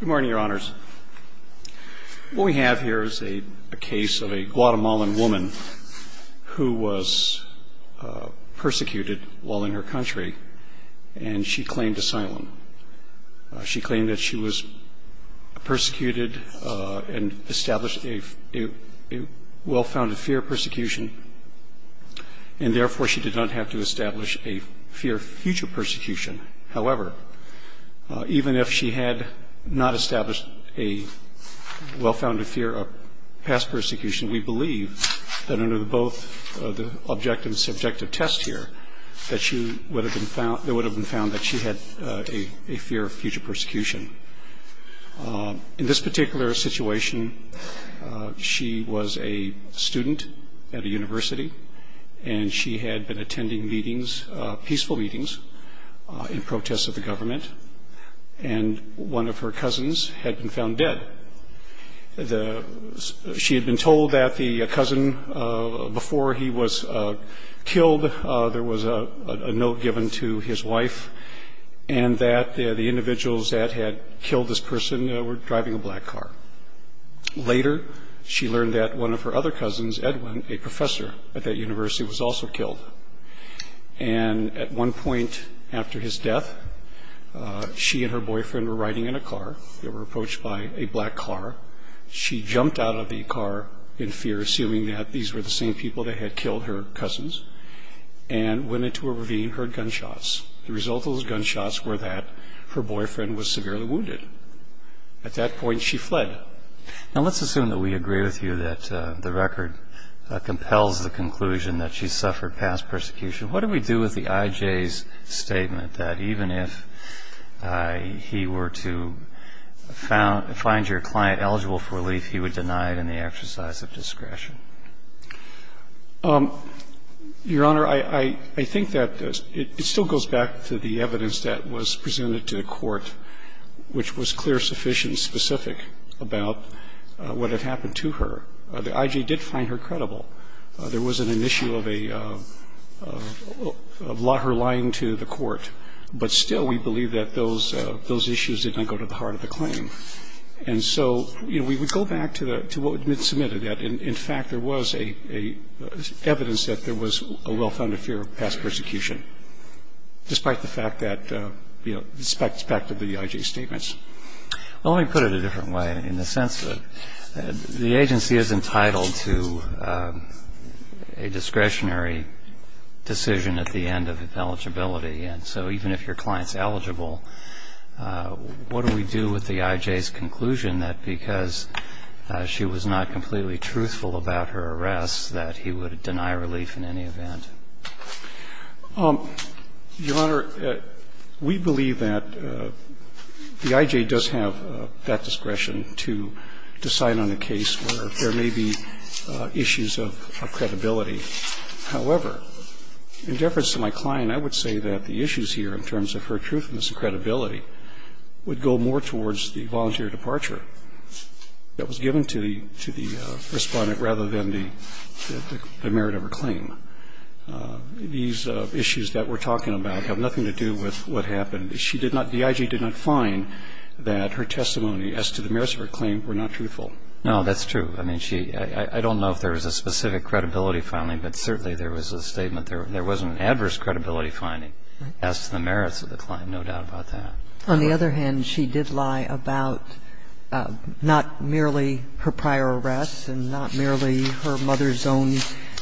Good morning, Your Honors. What we have here is a case of a Guatemalan woman who was persecuted while in her country, and she claimed asylum. She claimed that she was persecuted and established a well-founded fear of persecution, and therefore she did not have to establish a fear of future persecution. However, even if she had not established a well-founded fear of past persecution, we believe that under both the objective and subjective test here, that it would have been found that she had a fear of future persecution. In this particular situation, she was a student at a university, and she had been attending meetings, peaceful meetings, in protest of the government, and one of her cousins had been found dead. She had been told that the cousin before he was killed, there was a note given to his wife, and that the individuals that had killed this person were driving a black car. Later, she learned that one of her other cousins, Edwin, a professor at that university, was also killed. And at one point after his death, she and her boyfriend were riding in a car. They were approached by a black car. She jumped out of the car in fear, assuming that these were the same people that had killed her cousins, and went into a ravine and heard gunshots. The result of those gunshots were that her boyfriend was severely wounded. At that point, she fled. Now, let's assume that we agree with you that the record compels the conclusion that she suffered past persecution. What do we do with the IJ's statement that even if he were to find your client eligible for relief, he would deny it in the exercise of discretion? Your Honor, I think that it still goes back to the evidence that was presented to the court, which was clear, sufficient, specific about what had happened to her. The IJ did find her credible. There wasn't an issue of her lying to the court. But still, we believe that those issues did not go to the heart of the claim. And so, you know, we would go back to what had been submitted. In fact, there was evidence that there was a well-founded fear of past persecution, despite the fact that, you know, it goes back to the IJ's statements. Well, let me put it a different way in the sense that the agency is entitled to a discretionary decision at the end of eligibility. And so even if your client's eligible, what do we do with the IJ's conclusion that because she was not completely truthful about her arrest that he would deny relief in any event? Your Honor, we believe that the IJ does have that discretion to decide on a case where there may be issues of credibility. However, in deference to my client, I would say that the issues here in terms of her truthfulness and credibility would go more towards the volunteer departure that was the IJ did not find that her testimony as to the merits of her claim were not truthful. No, that's true. I mean, she – I don't know if there was a specific credibility finding, but certainly there was a statement. There wasn't an adverse credibility finding as to the merits of the claim, no doubt about that. On the other hand, she did lie about not merely her prior arrests and not merely her mother's own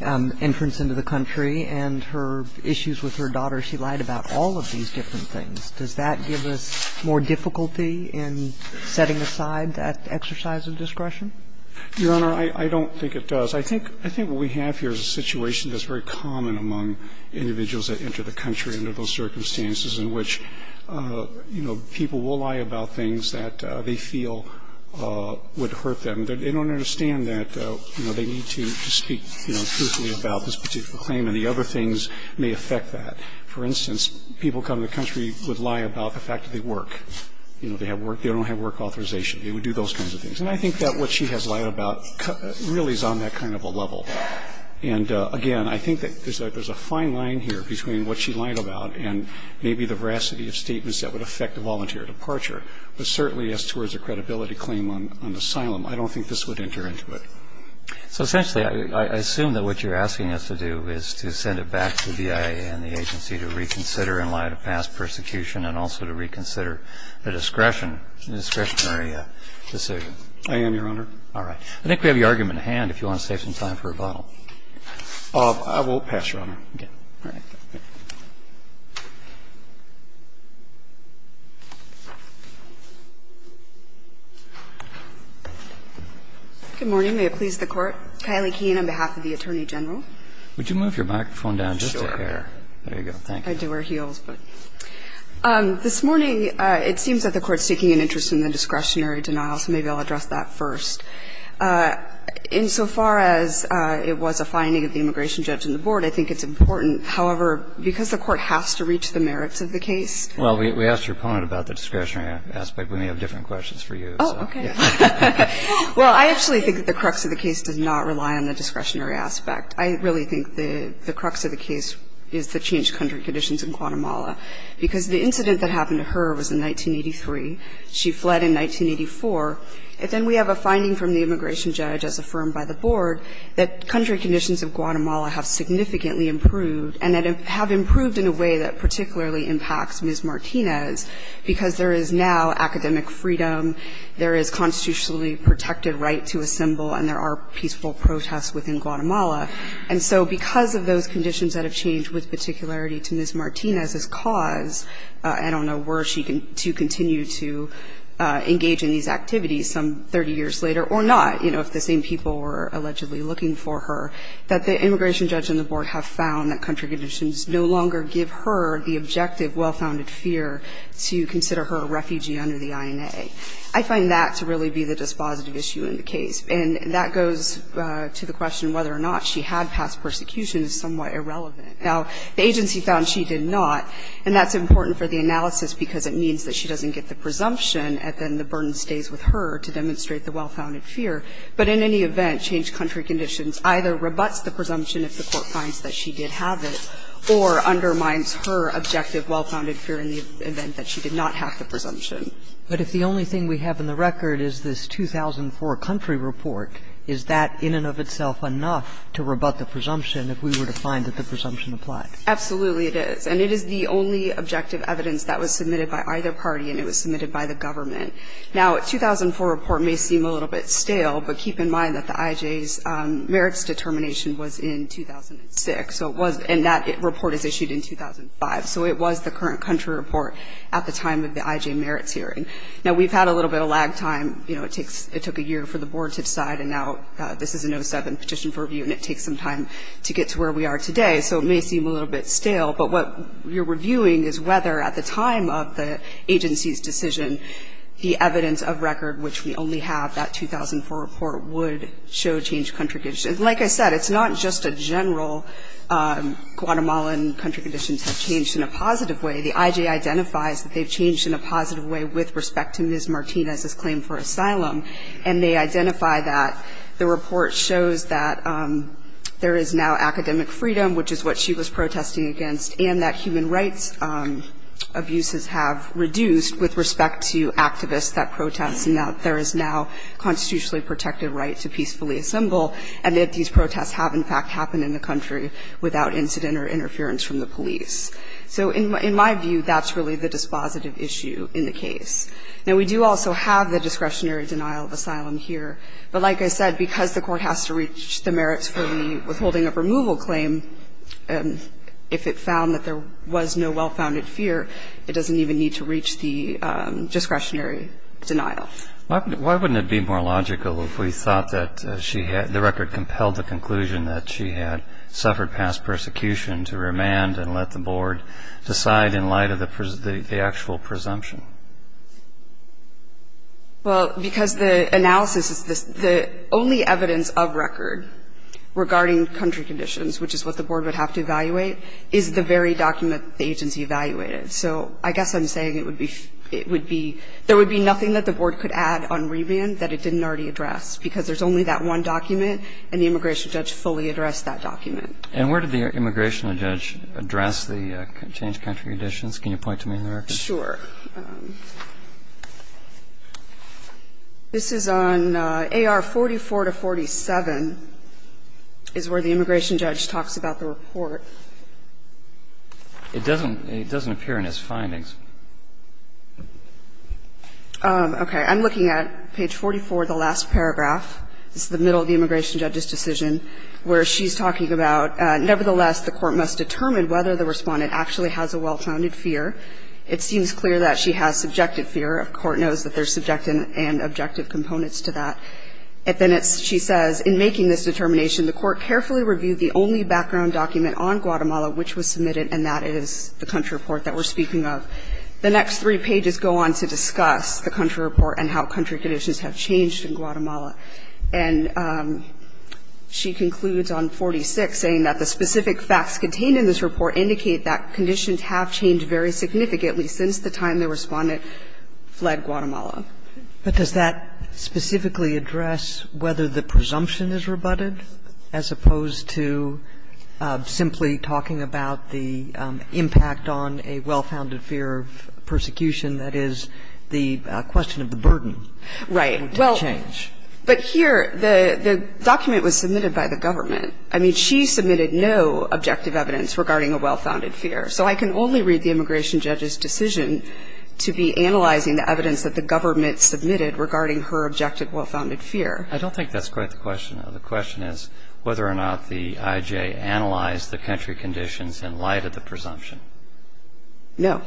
entrance into the country. And her issues with her daughter, she lied about all of these different things. Does that give us more difficulty in setting aside that exercise of discretion? Your Honor, I don't think it does. I think what we have here is a situation that's very common among individuals that enter the country under those circumstances in which, you know, people will lie about things that they feel would hurt them. They don't understand that, you know, they need to speak, you know, truthfully about this particular claim and the other things may affect that. For instance, people coming to the country would lie about the fact that they work. You know, they have work – they don't have work authorization. They would do those kinds of things. And I think that what she has lied about really is on that kind of a level. And again, I think that there's a fine line here between what she lied about and maybe the veracity of statements that would affect a volunteer departure. But certainly as towards a credibility claim on asylum, I don't think this would enter into it. So essentially, I assume that what you're asking us to do is to send it back to the BIA and the agency to reconsider in light of past persecution and also to reconsider the discretionary decision. I am, Your Honor. All right. I think we have your argument at hand if you want to save some time for rebuttal. I won't pass, Your Honor. Okay. All right. Good morning. May it please the Court. Kylie Keene on behalf of the Attorney General. Would you move your microphone down just a hair? There you go. Thank you. I do wear heels. This morning, it seems that the Court is taking an interest in the discretionary denial, so maybe I'll address that first. Insofar as it was a finding of the immigration judge and the Board, I think it's important, however, because the Court has to reach the merits of the case. Well, we asked your opponent about the discretionary aspect. We may have different questions for you. Oh, okay. Well, I actually think that the crux of the case does not rely on the discretionary aspect. I really think the crux of the case is the changed country conditions in Guatemala because the incident that happened to her was in 1983. She fled in 1984. And then we have a finding from the immigration judge as affirmed by the Board that country conditions of Guatemala have significantly improved and have improved in a way that particularly impacts Ms. Martinez because there is now academic freedom, there is constitutionally protected right to assemble, and there are peaceful protests within Guatemala. And so because of those conditions that have changed with particularity to Ms. Martinez's cause, I don't know where she can continue to engage in these I find that to really be the dispositive issue in the case. And that goes to the question whether or not she had passed persecution is somewhat irrelevant. Now, the agency found she did not, and that's important for the analysis because it means that she doesn't get the presumption, and then the burden stays with her to demonstrate the well-founded fear. And so the only thing we have in the record is this 2004 country report. Is that in and of itself enough to rebut the presumption if we were to find that the presumption applied? Absolutely, it is. And it is the only objective evidence that was submitted by either party, and it was submitted by the government. Now, a 2004 report may seem a little bit stale, but keep in mind that the IJ's determination was in 2006, and that report is issued in 2005. So it was the current country report at the time of the IJ merits hearing. Now, we've had a little bit of lag time. You know, it took a year for the board to decide, and now this is an 07 petition for review, and it takes some time to get to where we are today. So it may seem a little bit stale. But what we're reviewing is whether at the time of the agency's decision the evidence of record, which we only have that 2004 report, would show changed contributions. Like I said, it's not just a general Guatemalan country conditions have changed in a positive way. The IJ identifies that they've changed in a positive way with respect to Ms. Martinez's claim for asylum, and they identify that the report shows that there is now academic freedom, which is what she was protesting against, and that human rights abuses have reduced with respect to activists that protest, and that there is now a constitutionally protected right to peacefully assemble, and that these protests have, in fact, happened in the country without incident or interference from the police. So in my view, that's really the dispositive issue in the case. Now, we do also have the discretionary denial of asylum here. But like I said, because the Court has to reach the merits for the withholding of removal claim, if it found that there was no well-founded fear, it doesn't even need to reach the discretionary denial. Why wouldn't it be more logical if we thought that the record compelled the conclusion that she had suffered past persecution to remand and let the Board decide in light of the actual presumption? Well, because the analysis is the only evidence of record regarding country conditions, which is what the Board would have to evaluate, is the very document the agency evaluated. So I guess I'm saying it would be, it would be, there would be nothing that the Board could add on remand that it didn't already address, because there's only that one document, and the immigration judge fully addressed that document. And where did the immigration judge address the changed country conditions? Can you point to me on the record? Sure. This is on AR44 to 47, is where the immigration judge talks about the report. It doesn't, it doesn't appear in his findings. Okay. I'm looking at page 44, the last paragraph. This is the middle of the immigration judge's decision, where she's talking about, nevertheless, the Court must determine whether the Respondent actually has a well-founded fear. It seems clear that she has subjective fear. The Court knows that there's subjective and objective components to that. Then it's, she says, in making this determination, the Court carefully reviewed the only background document on Guatemala which was submitted, and that is the country report that we're speaking of. The next three pages go on to discuss the country report and how country conditions have changed in Guatemala. And she concludes on 46, saying that the specific facts contained in this report indicate that conditions have changed very significantly since the time the Respondent fled Guatemala. But does that specifically address whether the presumption is rebutted as opposed to simply talking about the impact on a well-founded fear of persecution, that is, the question of the burden? Right. Well, but here, the document was submitted by the government. I mean, she submitted no objective evidence regarding a well-founded fear. So I can only read the immigration judge's decision to be analyzing the evidence that the government submitted regarding her objective well-founded fear. I don't think that's quite the question. The question is whether or not the IJ analyzed the country conditions in light of the presumption. No.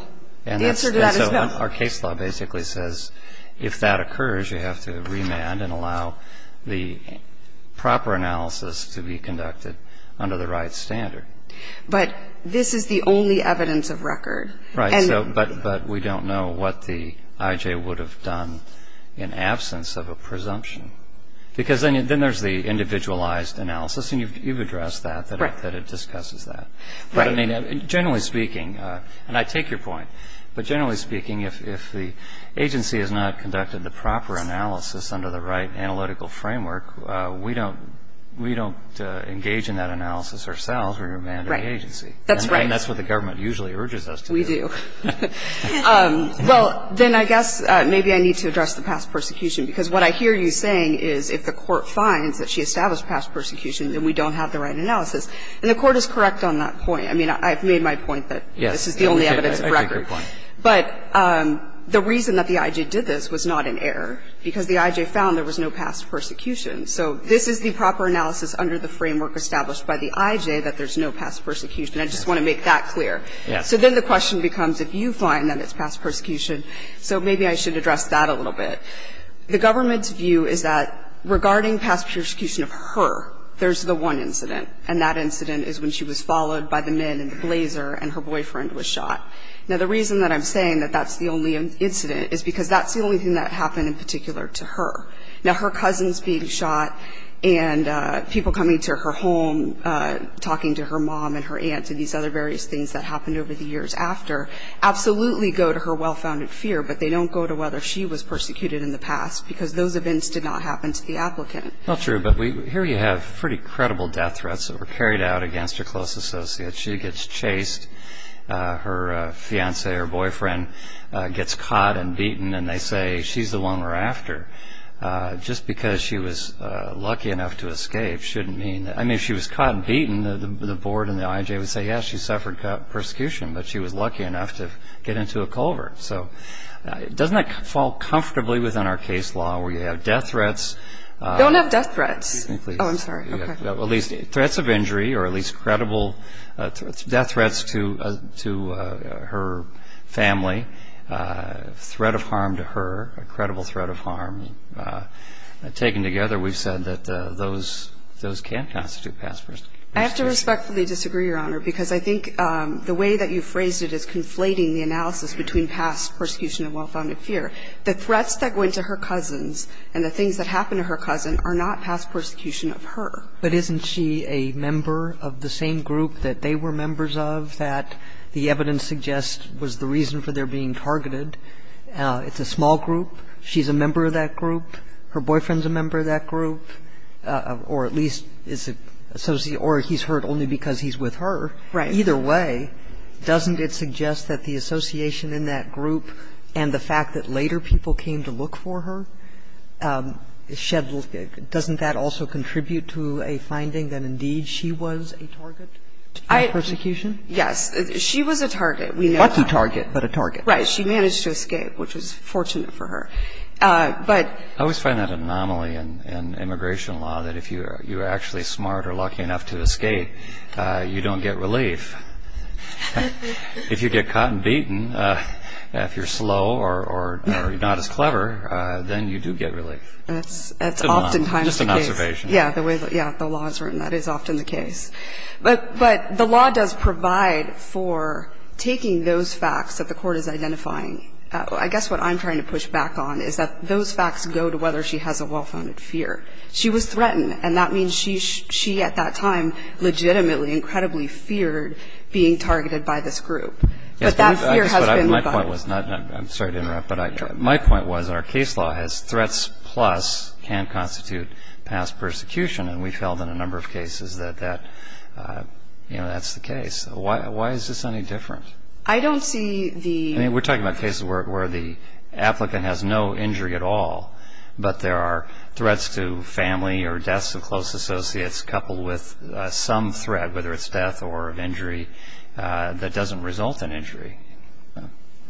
The answer to that is no. And so our case law basically says if that occurs, you have to remand and allow the proper analysis to be conducted under the right standard. But this is the only evidence of record. Right. But we don't know what the IJ would have done in absence of a presumption. Because then there's the individualized analysis, and you've addressed that, that it discusses that. Right. But, I mean, generally speaking, and I take your point, but generally speaking, if the agency has not conducted the proper analysis under the right analytical framework, we don't engage in that analysis ourselves. We remand the agency. Right. That's right. And that's what the government usually urges us to do. We do. Well, then I guess maybe I need to address the past persecution, because what I hear you saying is if the court finds that she established past persecution, then we don't have the right analysis. And the Court is correct on that point. I mean, I've made my point that this is the only evidence of record. Yes. I take your point. But the reason that the IJ did this was not in error, because the IJ found there was no past persecution. So this is the proper analysis under the framework established by the IJ that there's no past persecution. I just want to make that clear. Yes. So then the question becomes if you find that it's past persecution, so maybe I should address that a little bit. The government's view is that regarding past persecution of her, there's the one incident, and that incident is when she was followed by the men in the blazer and her boyfriend was shot. Now, the reason that I'm saying that that's the only incident is because that's the only thing that happened in particular to her. Now, her cousins being shot and people coming to her home, talking to her mom and her aunt and these other various things that happened over the years after absolutely go to her well-founded fear, but they don't go to whether she was persecuted in the past, because those events did not happen to the applicant. Not true. But here you have pretty credible death threats that were carried out against her close associates. She gets chased. Her fiancé or boyfriend gets caught and beaten, and they say she's the one we're after. Just because she was lucky enough to escape shouldn't mean that – I mean, if she was caught and beaten, the board and the IJ would say, yes, she suffered persecution, but she was lucky enough to get into a culvert. So doesn't that fall comfortably within our case law where you have death threats? Don't have death threats. Excuse me, please. Oh, I'm sorry. Okay. At least threats of injury or at least credible death threats to her family, threat of harm to her, a credible threat of harm. Taken together, we've said that those can constitute past persecutions. I have to respectfully disagree, Your Honor, because I think the way that you The threats that go into her cousins and the things that happen to her cousin are not past persecution of her. But isn't she a member of the same group that they were members of that the evidence suggests was the reason for their being targeted? It's a small group. She's a member of that group. Her boyfriend's a member of that group, or at least is associated – or he's hurt only because he's with her. Right. Either way, doesn't it suggest that the association in that group and the fact that later people came to look for her, doesn't that also contribute to a finding that indeed she was a target of persecution? Yes. She was a target. We know that. Not a target, but a target. Right. She managed to escape, which was fortunate for her. I always find that anomaly in immigration law that if you are actually smart or you don't get relief, if you get caught and beaten, if you're slow or not as clever, then you do get relief. That's oftentimes the case. Just an observation. Yeah, the way the law is written, that is often the case. But the law does provide for taking those facts that the court is identifying. I guess what I'm trying to push back on is that those facts go to whether she has a well-founded fear. She was threatened, and that means she at that time legitimately, incredibly feared being targeted by this group. But that fear has been gone. I'm sorry to interrupt, but my point was our case law has threats plus can constitute past persecution, and we've held on a number of cases that that's the case. Why is this any different? I don't see the ---- I mean, we're talking about cases where the applicant has no injury at all, but there are threats to family or deaths of close associates coupled with some threat, whether it's death or injury, that doesn't result in injury.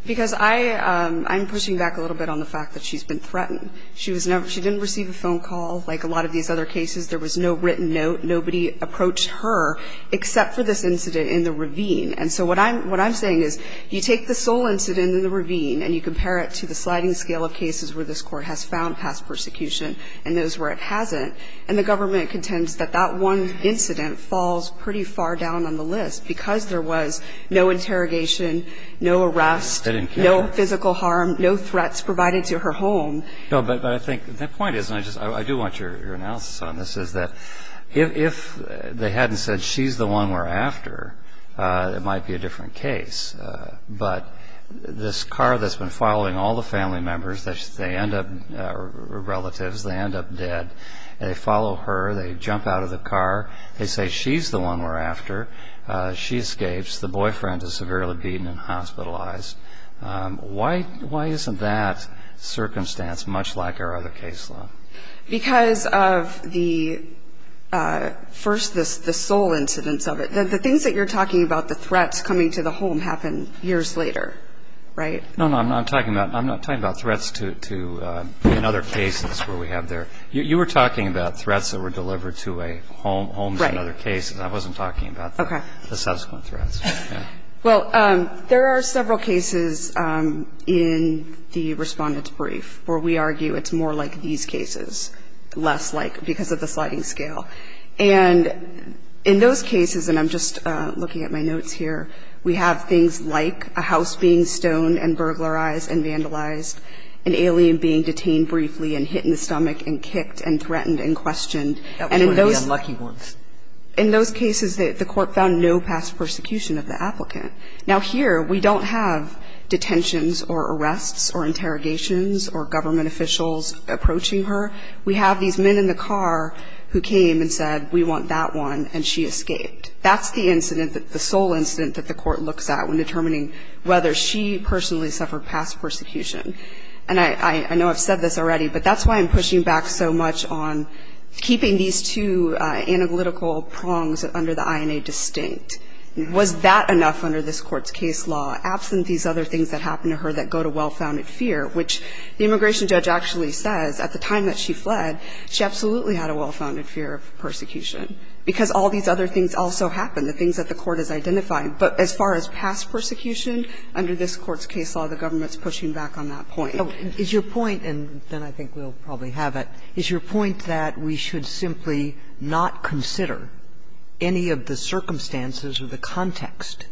Because I'm pushing back a little bit on the fact that she's been threatened. She didn't receive a phone call like a lot of these other cases. There was no written note. Nobody approached her except for this incident in the ravine. And so what I'm saying is you take the sole incident in the ravine and you compare it to the sliding scale of cases where this Court has found past persecution and those where it hasn't, and the government contends that that one incident falls pretty far down on the list because there was no interrogation, no arrest, no physical harm, no threats provided to her home. No, but I think the point is, and I do want your analysis on this, is that if they hadn't said she's the one we're after, it might be a different case. But this car that's been following all the family members, relatives, they end up dead. They follow her. They jump out of the car. They say she's the one we're after. She escapes. The boyfriend is severely beaten and hospitalized. Why isn't that circumstance much like our other case law? Because of the first, the sole incidence of it. The things that you're talking about, the threats coming to the home, happen years later, right? No, no, I'm not talking about threats to another case. That's what we have there. You were talking about threats that were delivered to a home in other cases. I wasn't talking about the subsequent threats. Well, there are several cases in the Respondent's Brief where we argue it's more like these cases, less like because of the sliding scale. And in those cases, and I'm just looking at my notes here, we have things like a house being stoned and burglarized and vandalized, an alien being detained briefly and hit in the stomach and kicked and threatened and questioned. And in those cases, the court found no past persecution of the applicant. Now, here we don't have detentions or arrests or interrogations or government officials approaching her. We have these men in the car who came and said, we want that one, and she escaped. That's the incident, the sole incident that the court looks at when determining whether she personally suffered past persecution. And I know I've said this already, but that's why I'm pushing back so much on keeping these two analytical prongs under the INA distinct. Was that enough under this Court's case law, absent these other things that happen to her that go to well-founded fear, which the immigration judge actually says at the time that she fled, she absolutely had a well-founded fear of persecution, because all these other things also happen, the things that the court has identified. But as far as past persecution, under this Court's case law, the government's pushing back on that point. Kagan is your point, and then I think we'll probably have it, is your point that we should simply not consider any of the circumstances or the context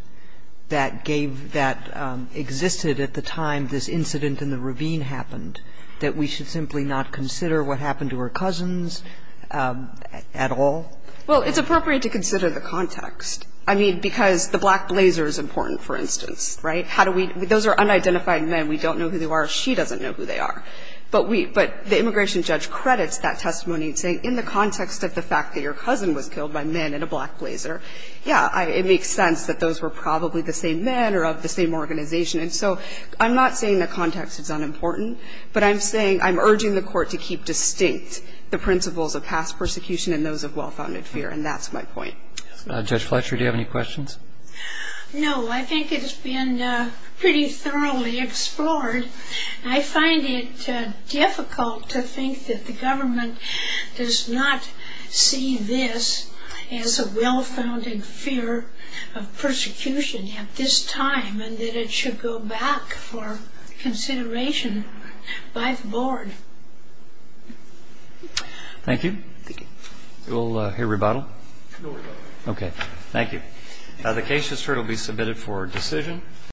that gave that existed at the time this incident in the ravine happened, that we should simply not consider what happened to her cousins at all? Well, it's appropriate to consider the context. I mean, because the black blazer is important, for instance, right? How do we – those are unidentified men. We don't know who they are. She doesn't know who they are. But we – but the immigration judge credits that testimony in saying, in the context of the fact that your cousin was killed by men in a black blazer, yeah, it makes sense that those were probably the same men or of the same organization. And so I'm not saying the context is unimportant, but I'm saying – I'm urging the court to keep distinct the principles of past persecution and those of well-founded fear, and that's my point. Judge Fletcher, do you have any questions? No. I think it's been pretty thoroughly explored. I find it difficult to think that the government does not see this as a well-founded fear of persecution at this time, and that it should go back for consideration by the board. Thank you. Thank you. We'll hear rebuttal? No rebuttal. Okay. Thank you. The case is heard. It will be submitted for decision.